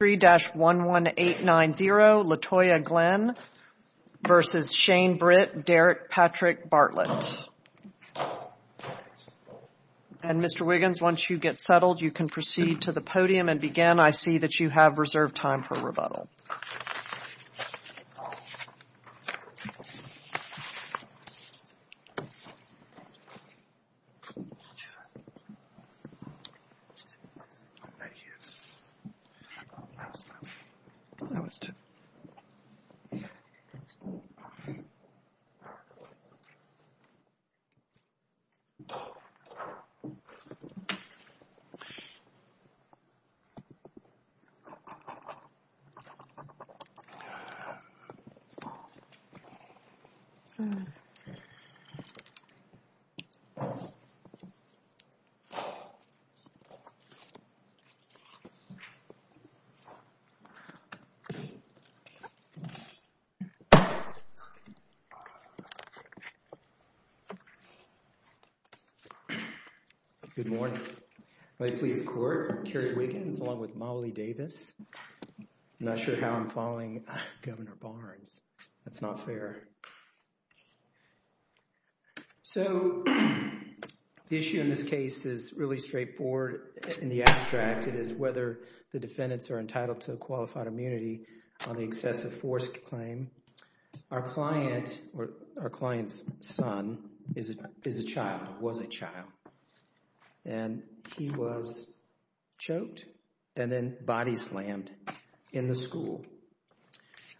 Derek Patrick Bartlett. And Mr. Wiggins, once you get settled, you can proceed to the podium and begin. I see that you have reserved time for rebuttal. Good morning, my police corps, Kerry Wiggins, along with Molly Davis. I'm not sure how I'm following Governor Barnes, that's not fair. So the issue in this case is really straightforward in the abstract, it is whether the defendants are entitled to a qualified immunity on the excessive force claim. Our client or our client's son is a child, was a child. And he was choked and then body slammed in the school.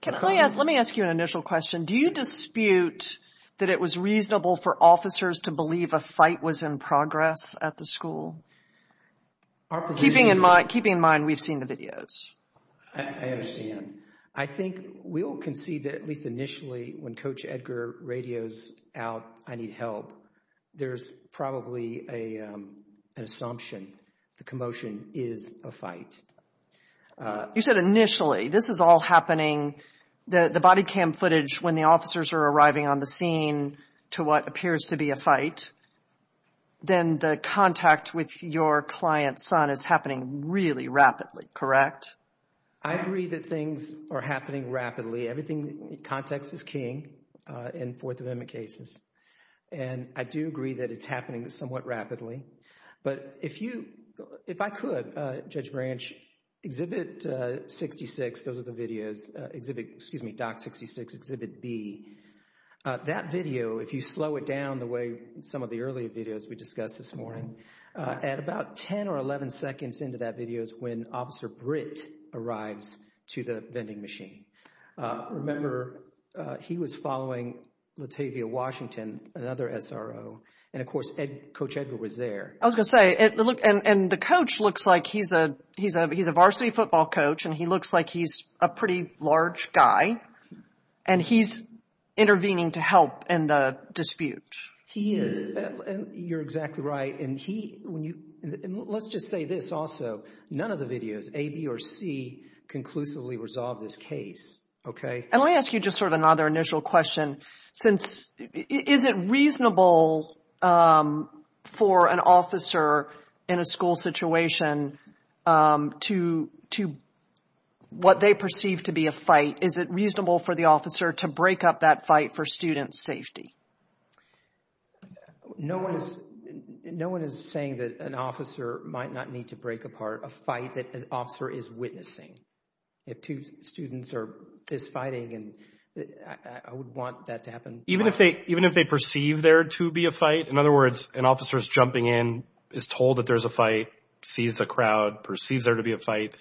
Let me ask you an initial question. Do you dispute that it was reasonable for officers to believe a fight was in progress at the school, keeping in mind we've seen the videos? I understand. I think we all can see that at least initially when Coach Edgar radios out, I need help, there's probably an assumption the commotion is a fight. You said initially, this is all happening, the body cam footage when the officers are arriving on the scene to what appears to be a fight, then the contact with your client's son is happening really rapidly, correct? I agree that things are happening rapidly. Everything, context is king in Fourth Amendment cases. And I do agree that it's happening somewhat rapidly. But if you, if I could, Judge Branch, Exhibit 66, those are the videos, Exhibit, excuse me, Doc 66, Exhibit B, that video, if you slow it down the way some of the earlier videos we discussed this morning, at about 10 or 11 seconds into that video is when Officer Britt arrives to the vending machine. Remember, he was following Latavia Washington, another SRO, and of course Coach Edgar was there. I was going to say, and the coach looks like he's a varsity football coach, and he looks like he's a pretty large guy, and he's intervening to help in the dispute. He is. You're exactly right. And he, when you, and let's just say this also, none of the videos, A, B, or C, conclusively resolve this case. Okay? And let me ask you just sort of another initial question, since, is it reasonable for an officer in a school situation to, what they perceive to be a fight, is it reasonable for the officer to break up that fight for student safety? No one is saying that an officer might not need to break apart a fight that an officer is witnessing. If two students are fist fighting, and I would want that to happen. Even if they perceive there to be a fight, in other words, an officer is jumping in, is told that there's a fight, sees a crowd, perceives there to be a fight,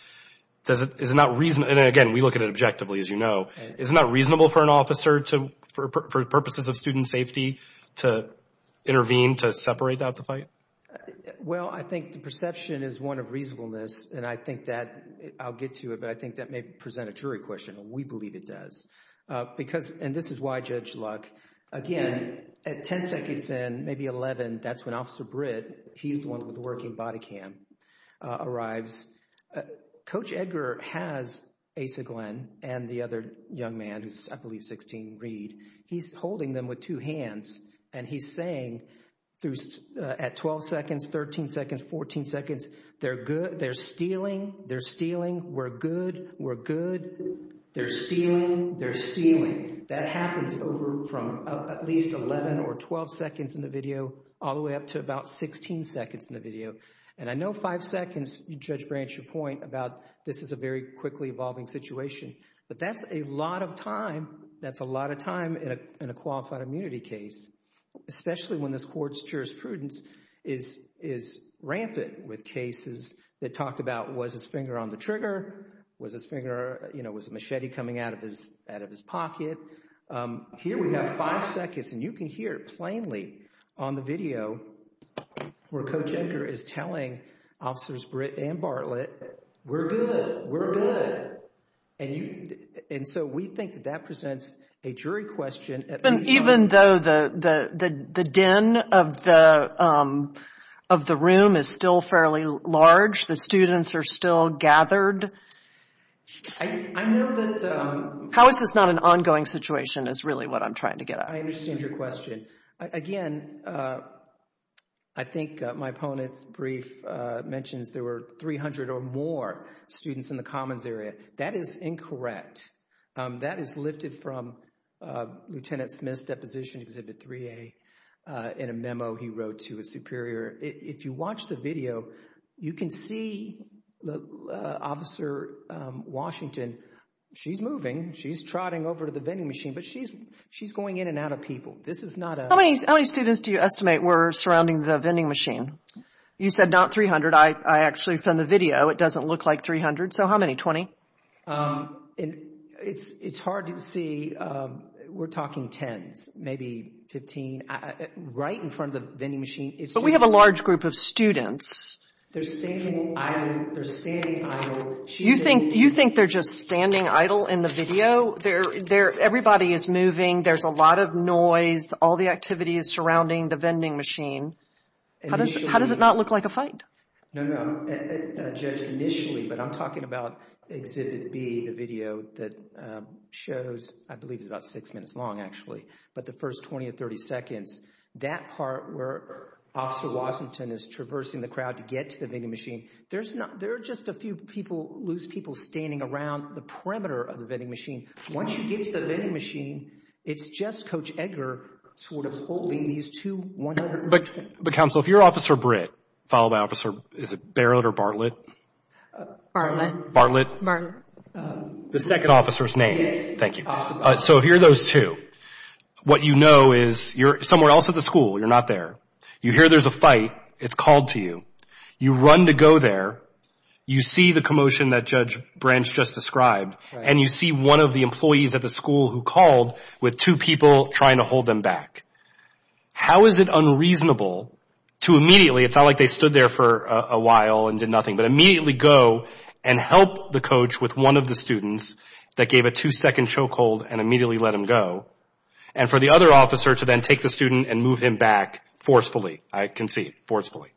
does it, is it not reason, and again, we look at it objectively, as you know, is it not reasonable for an officer to, for purposes of student safety, to intervene, to separate out the fight? Well, I think the perception is one of reasonableness, and I think that, I'll get to it, but I think that may present a jury question, and we believe it does. Because, and this is why Judge Luck, again, at ten seconds in, maybe eleven, that's when Officer Britt, he's the one with the working body cam, arrives. Coach Edgar has Asa Glenn, and the other young man who's, I believe, 16, Reed, he's holding them with two hands, and he's saying, at 12 seconds, 13 seconds, 14 seconds, they're good, they're stealing, they're stealing, we're good, we're good, they're stealing, they're That happens over from at least 11 or 12 seconds in the video, all the way up to about 16 seconds in the video. And I know five seconds, Judge Branch, your point about this is a very quickly evolving situation, but that's a lot of time, that's a lot of time in a qualified immunity case, especially when this court's jurisprudence is, is rampant with cases that talk about was his finger on the trigger, was his finger, you know, was the machete coming out of his, out of his pocket. Here we have five seconds, and you can hear it plainly on the video where Coach Edgar is telling Officers Britt and Bartlett, we're good, we're good, and you, and so we think that that presents a jury question, at least. Even though the, the, the den of the, of the room is still fairly large, the students are still gathered? I, I know that How is this not an ongoing situation is really what I'm trying to get at. I understand your question. Again, I think my opponent's brief mentions there were 300 or more students in the Commons area. That is incorrect. That is lifted from Lieutenant Smith's deposition, Exhibit 3A, in a memo he wrote to his superior. If you watch the video, you can see Officer Washington, she's moving, she's trotting over to the vending machine, but she's, she's going in and out of people. This is not a How many, how many students do you estimate were surrounding the vending machine? You said not 300. I, I actually found the video. It doesn't look like 300. So how many? 20? And it's, it's hard to see. We're talking tens, maybe 15. Right in front of the vending machine, it's But we have a large group of students. They're standing idle, they're standing idle. You think, you think they're just standing idle in the video? They're, they're, everybody is moving. There's a lot of noise. All the activity is surrounding the vending machine. How does, how does it not look like a fight? No, no. Judged initially, but I'm talking about Exhibit B, the video that shows, I believe it's about six minutes long actually, but the first 20 or 30 seconds, that part where Officer Washington is traversing the crowd to get to the vending machine, there's not, there are just a few people, loose people standing around the perimeter of the vending machine. Once you get to the vending machine, it's just Coach Edgar sort of holding these two 100. But, but counsel, if you're Officer Britt, followed by Officer, is it Barrett or Bartlett? Bartlett. Bartlett? Bartlett. The second officer's name. Yes. Thank you. So if you're those two, what you know is you're somewhere else at the school, you're not there. You hear there's a fight, it's called to you. You run to go there, you see the commotion that Judge Branch just described, and you see one of the employees at the school who called with two people trying to hold them back. How is it unreasonable to immediately, it's not like they stood there for a while and did nothing, but immediately go and help the coach with one of the students that gave a two second choke hold and immediately let him go, and for the other officer to then take the student and move him back forcefully? I can see, forcefully.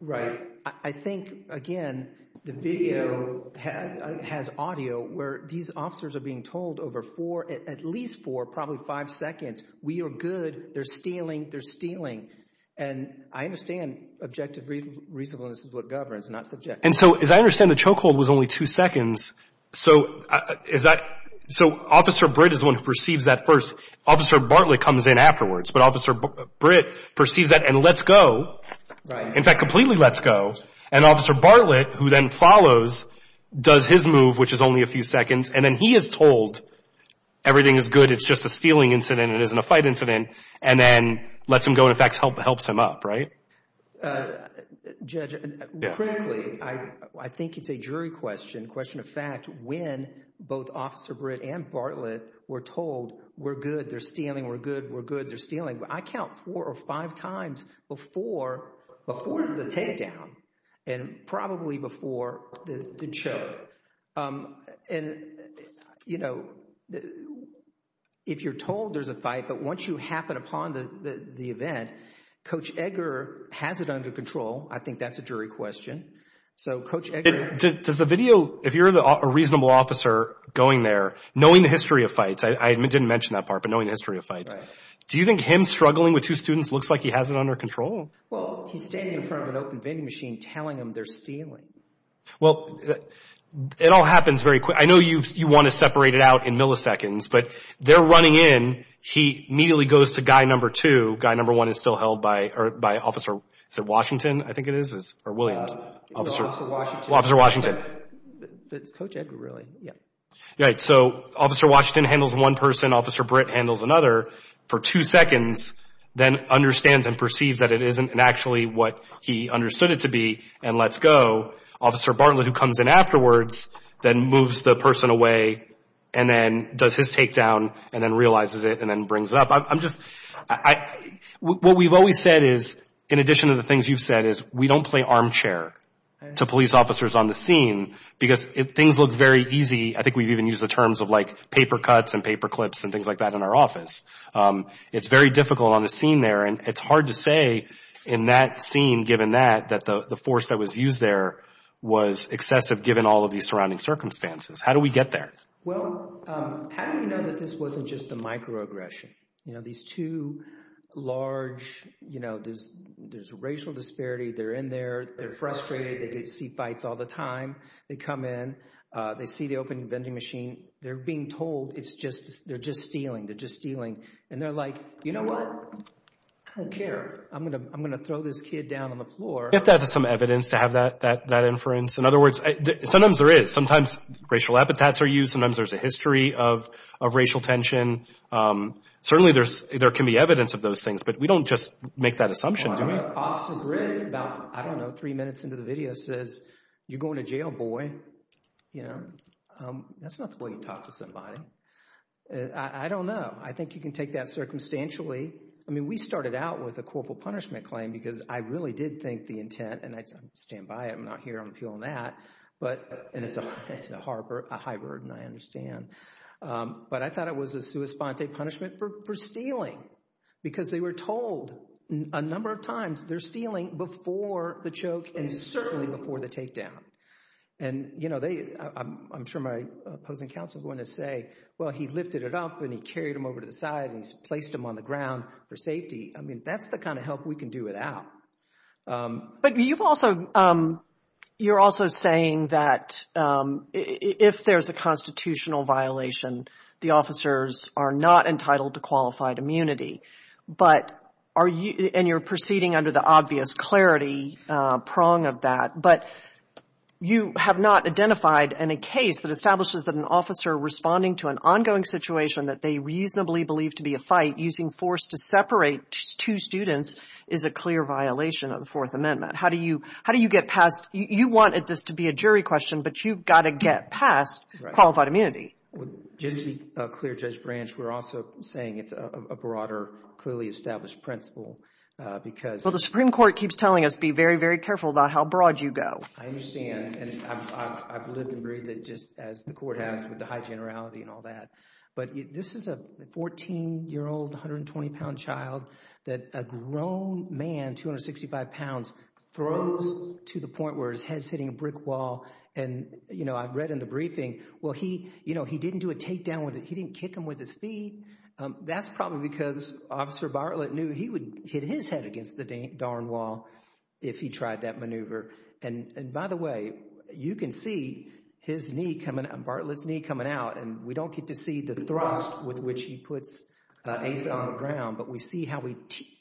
Right. I think, again, the video has audio where these officers are being told over four, at least four, probably five seconds, we are good, they're stealing, they're stealing. And I understand objective reasonableness is what governs, not subjective. And so as I understand the choke hold was only two seconds, so is that, so Officer Britt is the one who perceives that first. Officer Bartlett comes in afterwards, but Officer Britt perceives that and lets go. Right. In fact, completely lets go, and Officer Bartlett, who then follows, does his move, which is only a few seconds, and then he is told everything is good, it's just a stealing incident, it isn't a fight incident, and then lets him go and in fact helps him up, right? Judge, frankly, I think it's a jury question, question of fact, when both Officer Britt and Bartlett were told, we're good, they're stealing, we're good, we're good, they're stealing. I count four or five times before, before the takedown and probably before the choke. And, you know, if you're told there's a fight, but once you happen upon the event, Coach Edgar has it under control, I think that's a jury question. So Coach Edgar... Does the video, if you're a reasonable officer going there, knowing the history of fights, I didn't mention that part, but knowing the history of fights, do you think him struggling with two students looks like he has it under control? Well, he's standing in front of an open vending machine telling them they're stealing. Well, it all happens very quick. I know you want to separate it out in milliseconds, but they're running in, he immediately goes to guy number two, guy number one is still held by Officer Washington, I think it is, or Williams. No, Officer Washington. Officer Washington. It's Coach Edgar, really, yeah. Right, so Officer Washington handles one person, Officer Britt handles another for two seconds, then understands and perceives that it isn't actually what he understood it to be and lets go. Officer Bartlett, who comes in afterwards, then moves the person away and then does his takedown and then realizes it and then brings it up. What we've always said is, in addition to the things you've said, is we don't play armchair to police officers on the scene because things look very easy. I think we've even used the terms of like paper cuts and paper clips and things like that in our office. It's very difficult on the scene there and it's hard to say in that scene, given that, that the force that was used there was excessive given all of these surrounding circumstances. How do we get there? Well, how do we know that this wasn't just a microaggression? You know, these two large, you know, there's a racial disparity, they're in there, they're frustrated, they see fights all the time, they come in, they see the open vending machine, they're being told it's just, they're just stealing, they're just stealing. And they're like, you know what, I don't care, I'm going to throw this kid down on the floor. You have to have some evidence to have that inference. In other words, sometimes there is, sometimes racial epithets are used, sometimes there's a history of racial tension. Certainly there's, there can be evidence of those things, but we don't just make that assumption, do we? Well, I don't know. Officer Grigg, about, I don't know, three minutes into the video says, you're going to jail, boy. You know, that's not the way you talk to somebody. I don't know. I think you can take that circumstantially. I mean, we started out with a corporal punishment claim because I really did think the intent, and I stand by it, I'm not here on appeal on that, but, and it's a hard, a high burden, I understand. But I thought it was a sua sponte punishment for stealing because they were told a number of times they're stealing before the choke and certainly before the takedown. And you know, they, I'm sure my opposing counsel is going to say, well, he lifted it up and he carried him over to the side and he's placed him on the ground for safety. I mean, that's the kind of help we can do without. But you've also, you're also saying that if there's a constitutional violation, the officers are not entitled to qualified immunity, but are you, and you're proceeding under the obvious clarity prong of that, but you have not identified any case that establishes that an officer responding to an ongoing situation that they reasonably believe to be a fight using force to separate two students is a clear violation of the Fourth Amendment. How do you, how do you get past, you want this to be a jury question, but you've got to get past qualified immunity. Just to be clear, Judge Branch, we're also saying it's a broader, clearly established principle because... Well, the Supreme Court keeps telling us, be very, very careful about how broad you go. I understand, and I've lived and breathed it just as the Court has with the high generality and all that. But this is a 14-year-old, 120-pound child that a grown man, 265 pounds, throws to the point where his head's hitting a brick wall. And you know, I've read in the briefing, well, he, you know, he didn't do a takedown with it. He didn't kick him with his feet. That's probably because Officer Bartlett knew he would hit his head against the darn wall if he tried that maneuver. And by the way, you can see his knee coming, Bartlett's knee coming out, and we don't get to see the thrust with which he puts Asa on the ground, but we see how he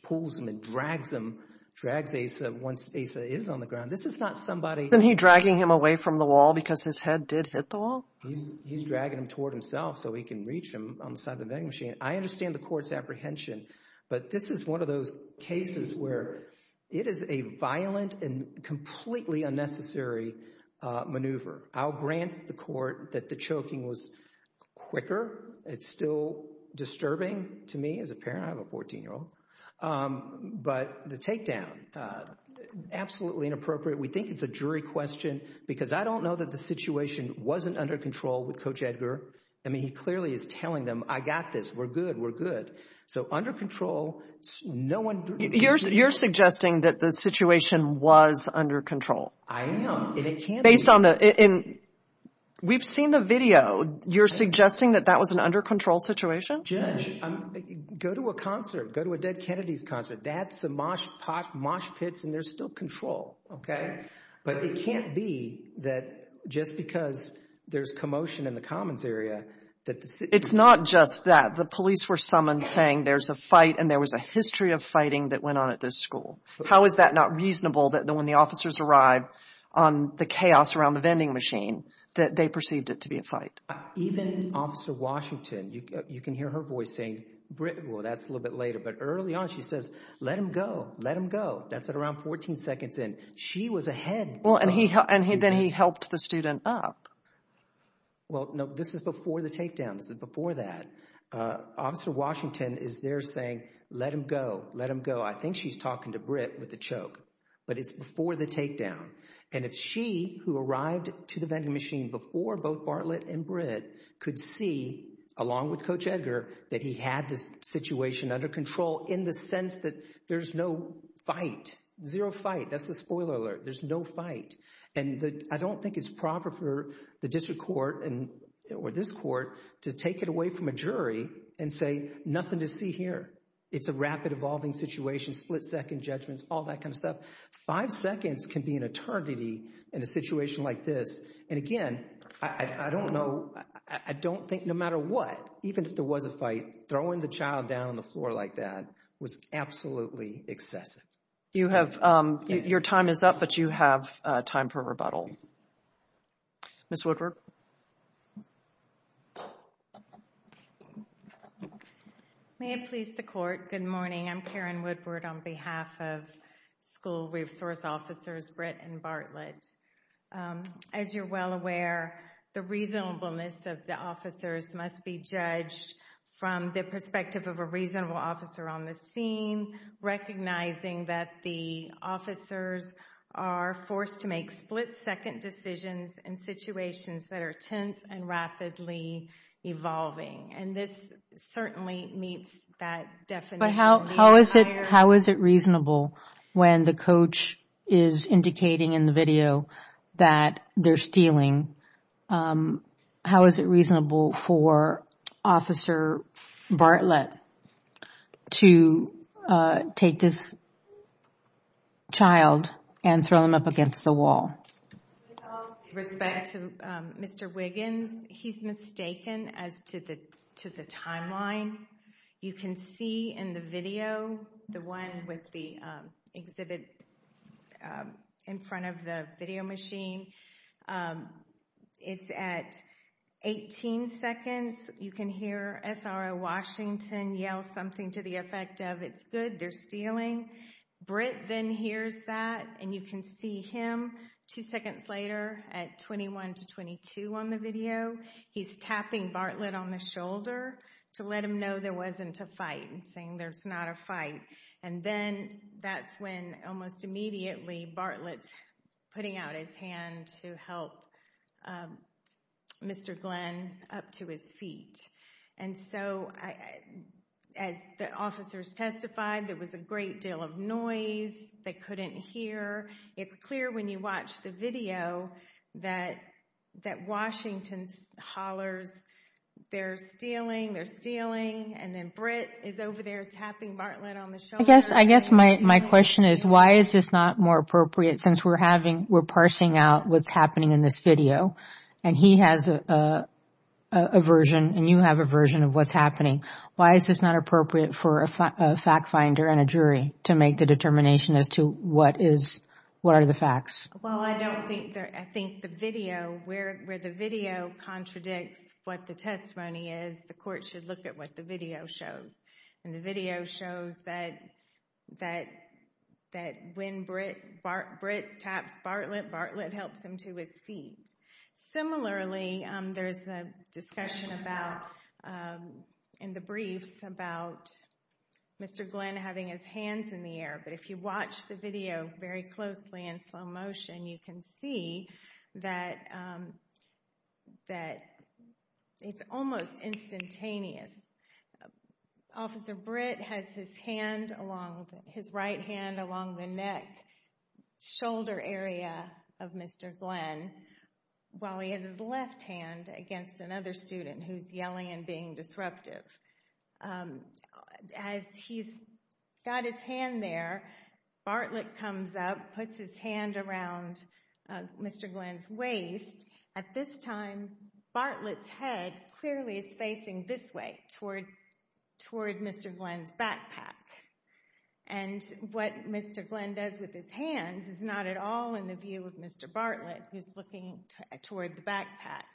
pulls him and drags him, drags Asa once Asa is on the ground. This is not somebody... Isn't he dragging him away from the wall because his head did hit the wall? He's dragging him toward himself so he can reach him on the side of the vending machine. I understand the Court's apprehension, but this is one of those cases where it is a violent and completely unnecessary maneuver. I'll grant the Court that the choking was quicker. It's still disturbing to me as a parent. I have a 14-year-old. But the takedown, absolutely inappropriate. We think it's a jury question because I don't know that the situation wasn't under control with Coach Edgar. I mean, he clearly is telling them, I got this, we're good, we're good. So under control, no one... You're suggesting that the situation was under control? I am. And it can't be. Based on the... And we've seen the video. You're suggesting that that was an under control situation? Judge, go to a concert, go to a Dead Kennedys concert, that's a mosh pot, mosh pits and there's still control, okay? But it can't be that just because there's commotion in the commons area that the... It's not just that. The police were summoned saying there's a fight and there was a history of fighting that went on at this school. How is that not reasonable that when the officers arrived on the chaos around the vending machine that they perceived it to be a fight? Even Officer Washington, you can hear her voice saying, well, that's a little bit later, but early on she says, let him go, let him go. That's at around 14 seconds in. She was ahead. Well, and then he helped the student up. Well, no, this is before the takedown, this is before that. Officer Washington is there saying, let him go, let him go. I think she's talking to Britt with a choke, but it's before the takedown. And if she, who arrived to the vending machine before both Bartlett and Britt, could see, along with Coach Edgar, that he had this situation under control in the sense that there's no fight, zero fight, that's a spoiler alert, there's no fight. And I don't think it's proper for the district court or this court to take it away from a jury and say, nothing to see here. It's a rapid evolving situation, split second judgments, all that kind of stuff. Five seconds can be an eternity in a situation like this. And again, I don't know, I don't think, no matter what, even if there was a fight, throwing the child down on the floor like that was absolutely excessive. You have, your time is up, but you have time for rebuttal. Ms. Woodward. May it please the court, good morning. I'm Karen Woodward on behalf of School Resource Officers Britt and Bartlett. As you're well aware, the reasonableness of the officers must be judged from the perspective of a reasonable officer on the scene, recognizing that the officers are forced to make split second decisions in situations that are tense and rapidly evolving. And this certainly meets that definition. How is it reasonable when the coach is indicating in the video that they're stealing? How is it reasonable for Officer Bartlett to take this child and throw him up against the wall? With all respect to Mr. Wiggins, he's mistaken as to the timeline. You can see in the video, the one with the exhibit in front of the video machine, it's at 18 seconds. You can hear SRO Washington yell something to the effect of, it's good, they're stealing. Britt then hears that and you can see him two seconds later at 21 to 22 on the video. He's tapping Bartlett on the shoulder to let him know there wasn't a fight and saying there's not a fight. And then that's when almost immediately Bartlett's putting out his hand to help Mr. Glenn up to his feet. And so, as the officers testified, there was a great deal of noise, they couldn't hear. It's clear when you watch the video that Washington's hollers, they're stealing, they're stealing, and then Britt is over there tapping Bartlett on the shoulder. I guess my question is, why is this not more appropriate since we're parsing out what's happening in this video? And he has a version and you have a version of what's happening. Why is this not appropriate for a fact finder and a jury to make the determination as to what are the facts? Well, I don't think, I think the video, where the video contradicts what the testimony is, the court should look at what the video shows. And the video shows that when Britt taps Bartlett, Bartlett helps him to his feet. Similarly, there's a discussion about, in the briefs, about Mr. Glenn having his hands in the air. But if you watch the video very closely in slow motion, you can see that it's almost instantaneous. Officer Britt has his hand along, his right hand along the neck, shoulder area of Mr. Glenn, while he has his left hand against another student who's yelling and being disruptive. As he's got his hand there, Bartlett comes up, puts his hand around Mr. Glenn's waist. At this time, Bartlett's head clearly is facing this way toward, toward Mr. Glenn's backpack. And what Mr. Glenn does with his hands is not at all in the view of Mr. Bartlett, who's looking toward the backpack.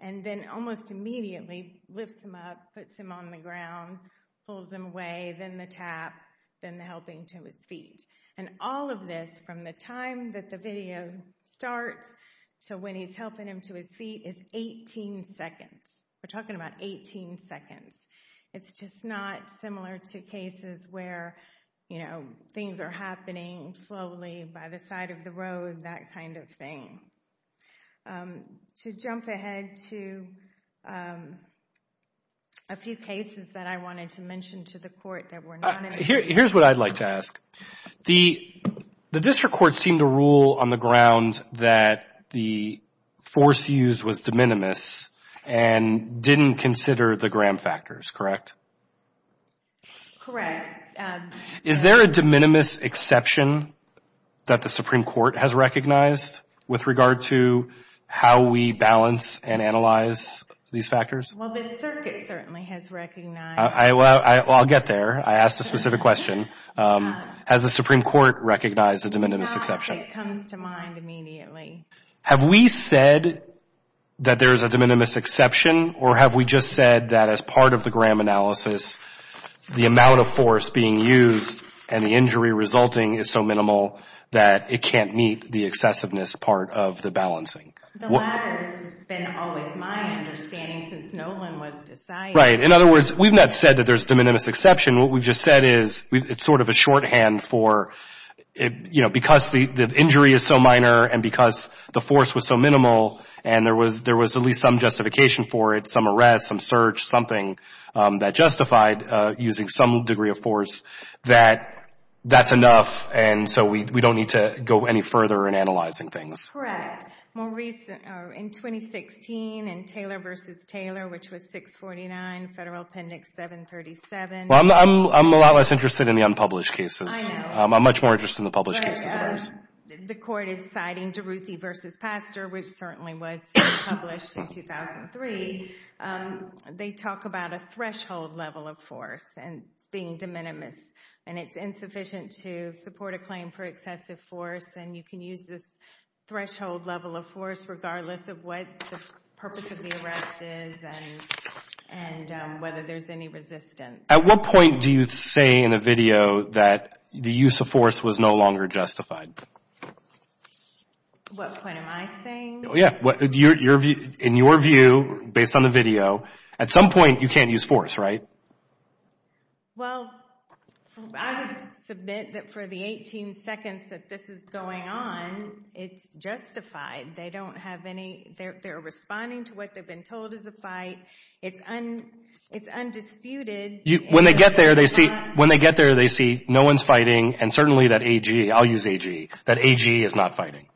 And then almost immediately lifts him up, puts him on the ground, pulls him away, then the tap, then the helping to his feet. And all of this, from the time that the video starts to when he's helping him to his feet, is 18 seconds. We're talking about 18 seconds. It's just not similar to cases where, you know, things are happening slowly by the side of the road, that kind of thing. To jump ahead to a few cases that I wanted to mention to the court that were not in the task, the, the district court seemed to rule on the ground that the force used was de minimis and didn't consider the Graham factors, correct? Correct. Is there a de minimis exception that the Supreme Court has recognized with regard to how we balance and analyze these factors? Well, the circuit certainly has recognized. I, well, I'll get there. I asked a specific question. Has the Supreme Court recognized a de minimis exception? Not that it comes to mind immediately. Have we said that there's a de minimis exception or have we just said that as part of the Graham analysis, the amount of force being used and the injury resulting is so minimal that it can't meet the excessiveness part of the balancing? The latter has been always my understanding since Nolan was deciding. Right. In other words, we've not said that there's de minimis exception. What we've just said is it's sort of a shorthand for, you know, because the injury is so minor and because the force was so minimal and there was, there was at least some justification for it, some arrest, some search, something that justified using some degree of force that that's enough and so we don't need to go any further in analyzing things. Correct. More recent, or in 2016, in Taylor v. Taylor, which was 649, Federal Appendix 737. Well, I'm a lot less interested in the unpublished cases. I know. I'm much more interested in the published cases. The court is citing DeRuthy v. Pastor, which certainly was published in 2003. They talk about a threshold level of force and it's being de minimis and it's insufficient to support a claim for excessive force and you can use this threshold level of force regardless of what the purpose of the arrest is and whether there's any resistance. At what point do you say in a video that the use of force was no longer justified? What point am I saying? Yeah. In your view, based on the video, at some point you can't use force, right? Well, I would submit that for the 18 seconds that this is going on, it's justified. They don't have any, they're responding to what they've been told is a fight. It's undisputed. When they get there, they see no one's fighting and certainly that AG, I'll use AG, that AG is not fighting.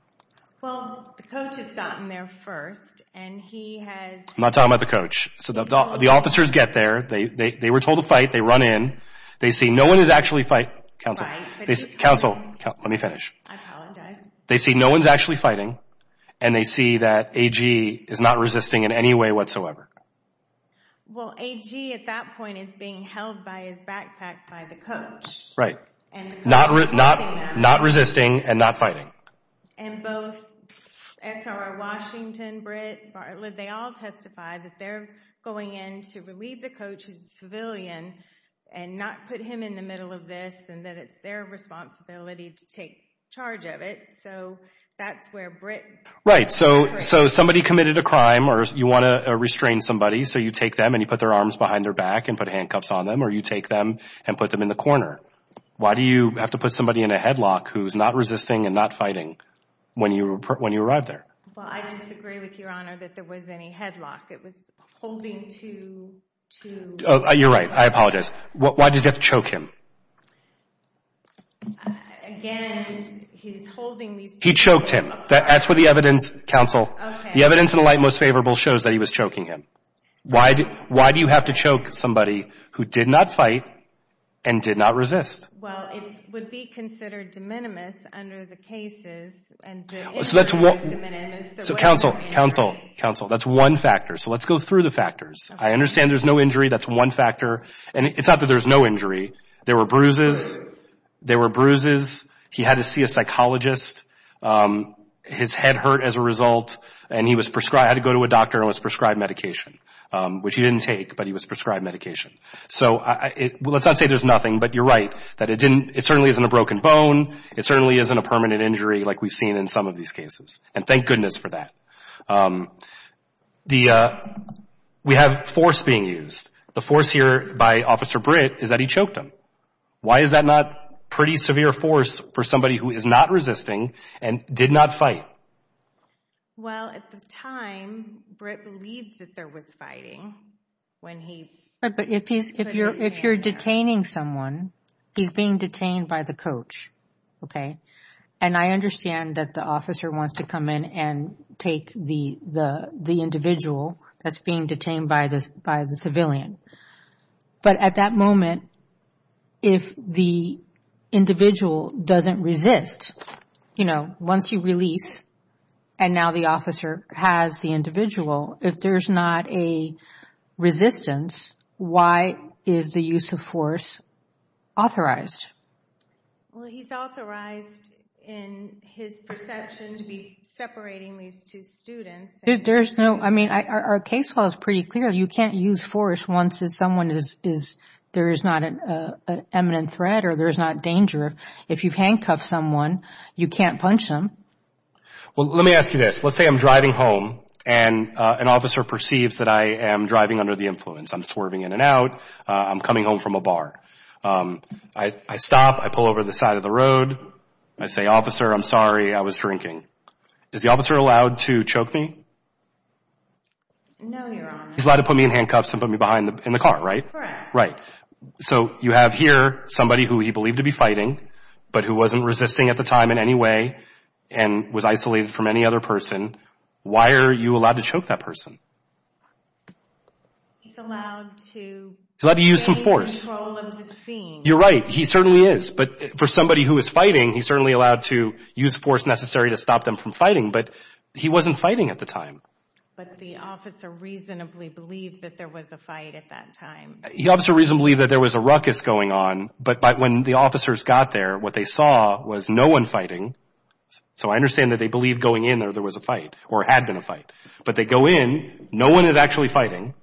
Well, the coach has gotten there first and he has... I'm not talking about the coach. The officers get there. They were told to fight. They run in. They see no one is actually fighting. Counsel, let me finish. I apologize. They see no one's actually fighting and they see that AG is not resisting in any way whatsoever. Well, AG at that point is being held by his backpack by the coach. Right. Not resisting and not fighting. And both S.R. Washington, Britt Bartlett, they all testify that they're going in to relieve the coach who's a civilian and not put him in the middle of this and that it's their responsibility to take charge of it. So that's where Britt... Right. So somebody committed a crime or you want to restrain somebody, so you take them and you put their arms behind their back and put handcuffs on them or you take them and put them in the corner. Why do you have to put somebody in a headlock who's not resisting and not fighting when you arrive there? Well, I disagree with Your Honor that there was any headlock. It was holding to... You're right. I apologize. Why does he have to choke him? Again, he's holding these... He choked him. That's what the evidence, Counsel... Okay. The evidence in the light most favorable shows that he was choking him. Why do you have to choke somebody who did not fight and did not resist? Well, it would be considered de minimis under the cases. So that's what... So Counsel, Counsel, Counsel, that's one factor. So let's go through the factors. I understand there's no injury. That's one factor. And it's not that there's no injury. There were bruises. There were bruises. He had to see a psychologist. His head hurt as a result. And he had to go to a doctor and was prescribed medication, which he didn't take, but he was prescribed medication. So let's not say there's nothing, but you're right that it certainly isn't a broken bone. It certainly isn't a permanent injury like we've seen in some of these cases. And thank goodness for that. We have force being used. The force here by Officer Britt is that he choked him. Why is that not pretty severe force for somebody who is not resisting and did not fight? Well, at the time, Britt believed that there was fighting when he put his hand down. But if you're detaining someone, he's being detained by the coach, okay? And I understand that the officer wants to come in and take the individual that's being detained by the civilian. But at that moment, if the individual doesn't resist, you know, once you release and now the officer has the individual, if there's not a resistance, why is the use of force authorized? Well, he's authorized in his perception to be separating these two students. I mean, our case law is pretty clear. You can't use force once there's not an imminent threat or there's not danger. If you've handcuffed someone, you can't punch them. Well, let me ask you this. Let's say I'm driving home and an officer perceives that I am driving under the influence. I'm swerving in and out. I'm coming home from a bar. I stop. I pull over to the side of the road. I say, Officer, I'm sorry. I was drinking. Is the officer allowed to choke me? No, Your Honor. He's allowed to put me in handcuffs and put me behind in the car, right? Correct. Right. So you have here somebody who he believed to be fighting but who wasn't resisting at the time in any way and was isolated from any other person. Why are you allowed to choke that person? He's allowed to take control of his being. You're right. He certainly is. But for somebody who is fighting, he's certainly allowed to use the force necessary to stop them from fighting. But he wasn't fighting at the time. But the officer reasonably believed that there was a fight at that time. The officer reasonably believed that there was a ruckus going on. But when the officers got there, what they saw was no one fighting. So I understand that they believed going in there there was a fight or had been a fight. But they go in. No one is actually fighting.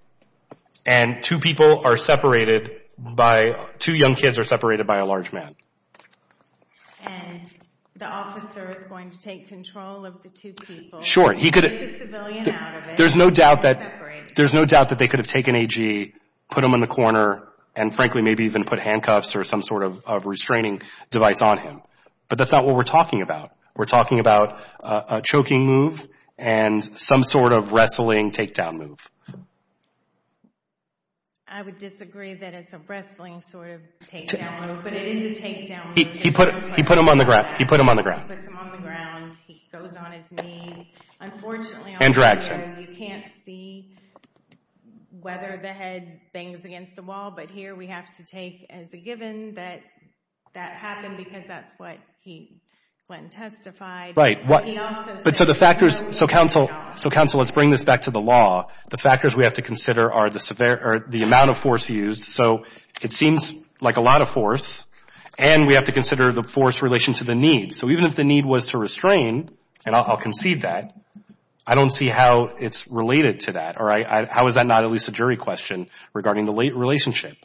And two people are separated by two young kids are separated by a large man. And the officer is going to take control of the two people. Sure. He could take the civilian out of it. There's no doubt that they could have taken AG, put him in the corner, and frankly maybe even put handcuffs or some sort of restraining device on him. But that's not what we're talking about. We're talking about a choking move and some sort of wrestling takedown move. I would disagree that it's a wrestling sort of takedown move. But it is a takedown move. He put him on the ground. He puts him on the ground. He goes on his knees. Unfortunately, on the road, you can't see whether the head bangs against the wall. But here we have to take as a given that that happened because that's what he went and testified. Right. But so the factors, so counsel, let's bring this back to the law. The factors we have to consider are the amount of force used. So it seems like a lot of force. And we have to consider the force in relation to the need. So even if the need was to restrain, and I'll concede that, I don't see how it's related to that. How is that not at least a jury question regarding the relationship?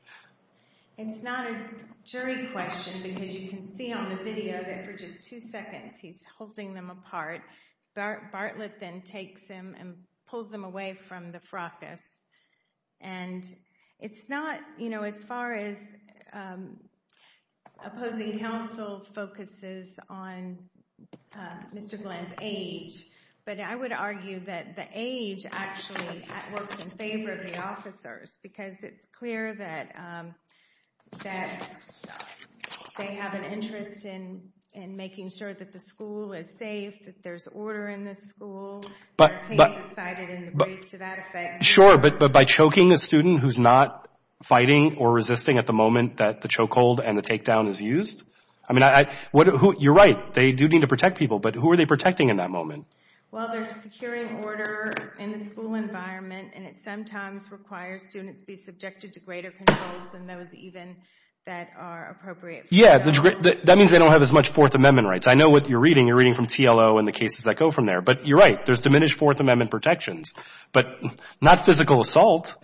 It's not a jury question because you can see on the video that for just two seconds he's holding them apart. Bartlett then takes him and pulls him away from the fracas. And it's not, you know, as far as opposing counsel focuses on Mr. Glenn's age. But I would argue that the age actually works in favor of the officers because it's clear that they have an interest in making sure that the school is safe, that there's order in the school. Their case is cited in the brief to that effect. Sure, but by choking a student who's not fighting or resisting at the moment that the choke hold and the takedown is used? I mean, you're right. They do need to protect people, but who are they protecting in that moment? Well, they're securing order in the school environment, and it sometimes requires students be subjected to greater controls than those even that are appropriate. Yeah, that means they don't have as much Fourth Amendment rights. I know what you're reading. You're reading from TLO and the cases that go from there. But you're right. There's diminished Fourth Amendment protections, but not physical assault,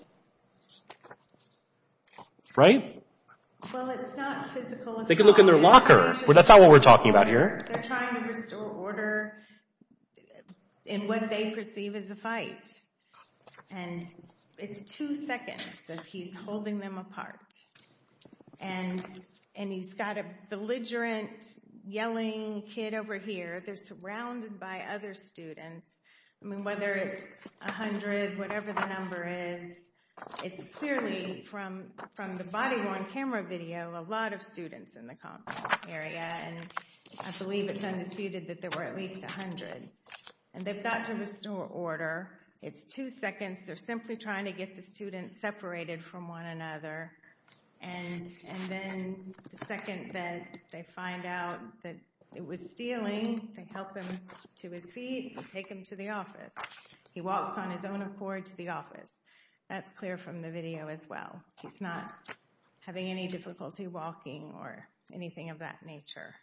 right? Well, it's not physical assault. They can look in their locker. That's not what we're talking about here. They're trying to restore order in what they perceive as a fight, and it's two seconds that he's holding them apart. And he's got a belligerent, yelling kid over here. They're surrounded by other students. I mean, whether it's 100, whatever the number is, it's clearly from the body-worn camera video a lot of students in the complex area, and I believe it's undisputed that there were at least 100. And they've got to restore order. It's two seconds. They're simply trying to get the students separated from one another, and then the second that they find out that it was stealing, they help him to his feet and take him to the office. He walks on his own accord to the office. That's clear from the video as well. He's not having any difficulty walking or anything of that nature.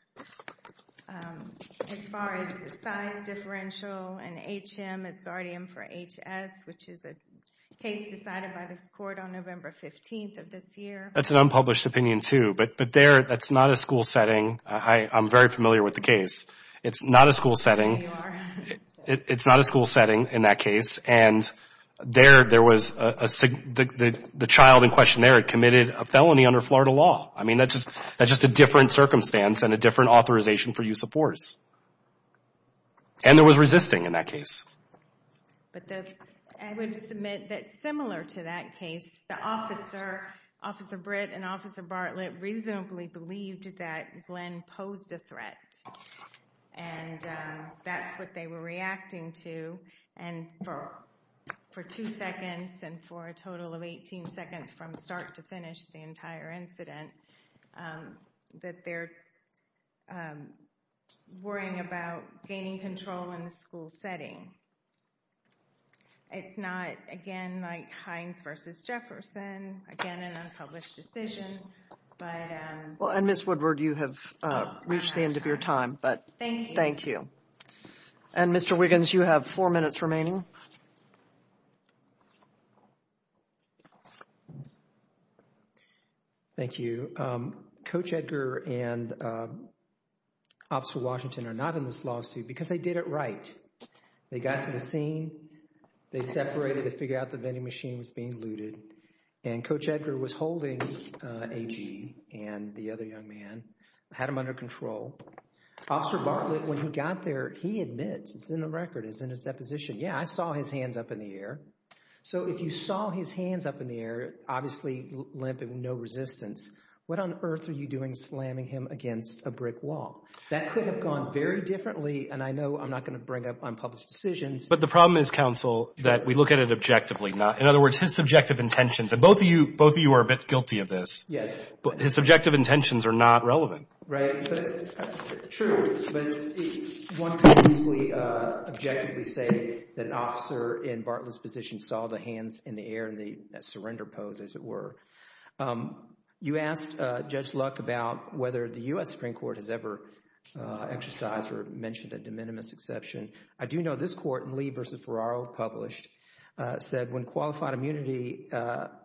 As far as the size differential and HM as guardian for HS, which is a case decided by this court on November 15th of this year. That's an unpublished opinion too, but there that's not a school setting. I'm very familiar with the case. It's not a school setting. There you are. It's not a school setting in that case, and the child in question there had committed a felony under Florida law. I mean, that's just a different circumstance and a different authorization for use of force. And there was resisting in that case. I would submit that similar to that case, the officer, Officer Britt and Officer Bartlett, reasonably believed that Glenn posed a threat, and that's what they were reacting to. And for two seconds and for a total of 18 seconds from start to finish, the entire incident, that they're worrying about gaining control in the school setting. It's not, again, like Hines v. Jefferson. Again, an unpublished decision. And, Ms. Woodward, you have reached the end of your time. Thank you. Thank you. And, Mr. Wiggins, you have four minutes remaining. Thank you. Coach Edgar and Officer Washington are not in this lawsuit because they did it right. They got to the scene. They separated to figure out the vending machine was being looted, and Coach Edgar was holding A.G. and the other young man, had him under control. Officer Bartlett, when he got there, he admits, it's in the record, it's in his deposition, yeah, I saw his hands up in the air. So if you saw his hands up in the air, obviously limp and no resistance, what on earth are you doing slamming him against a brick wall? That could have gone very differently, and I know I'm not going to bring up unpublished decisions. But the problem is, counsel, that we look at it objectively. In other words, his subjective intentions, and both of you are a bit guilty of this. Yes. His subjective intentions are not relevant. Right. True. But one could easily objectively say that an officer in Bartlett's position saw the hands in the air and the surrender pose, as it were. You asked Judge Luck about whether the U.S. Supreme Court has ever exercised or mentioned a de minimis exception. I do know this court in Lee v. Ferraro published, said when qualified immunity,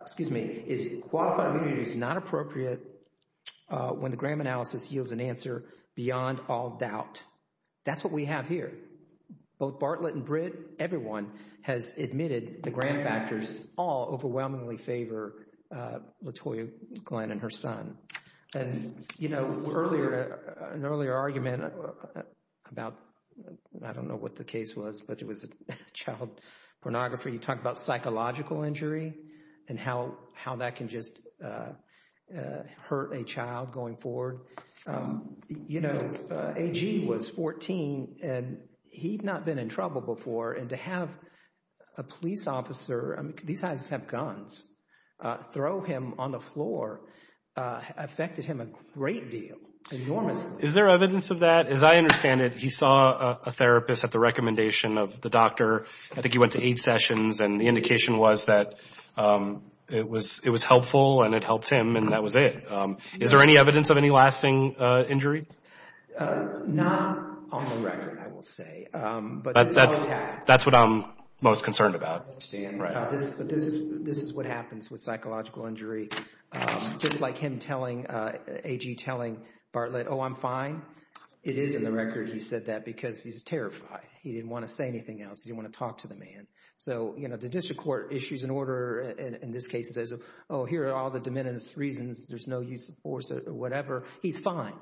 excuse me, is qualified immunity is not appropriate when the grant analysis yields an answer beyond all doubt. That's what we have here. Both Bartlett and Britt, everyone has admitted the grant factors all overwhelmingly favor LaToya Glenn and her son. And, you know, an earlier argument about, I don't know what the case was, but it was child pornography. You talk about psychological injury and how that can just hurt a child going forward. You know, AG was 14, and he'd not been in trouble before, and to have a police officer, these guys have guns, throw him on the floor affected him a great deal, enormously. Is there evidence of that? As I understand it, he saw a therapist at the recommendation of the doctor. I think he went to eight sessions, and the indication was that it was helpful and it helped him, and that was it. Is there any evidence of any lasting injury? Not on the record, I will say. But that's what I'm most concerned about. This is what happens with psychological injury. Just like him telling, AG telling Bartlett, oh, I'm fine. It is in the record he said that because he's terrified. He didn't want to say anything else. He didn't want to talk to the man. So, you know, the district court issues an order in this case that says, oh, here are all the demented reasons. There's no use of force or whatever. He's fine.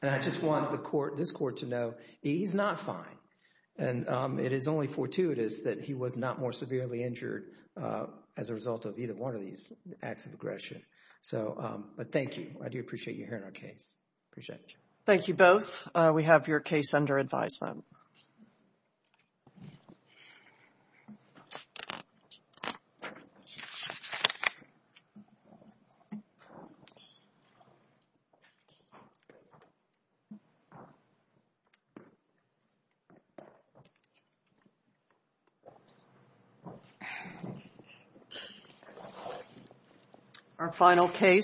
And I just want this court to know he's not fine. And it is only fortuitous that he was not more severely injured as a result of either one of these acts of aggression. But thank you. I do appreciate you hearing our case. Appreciate it. Thank you both. We have your case under advisement. Our final case.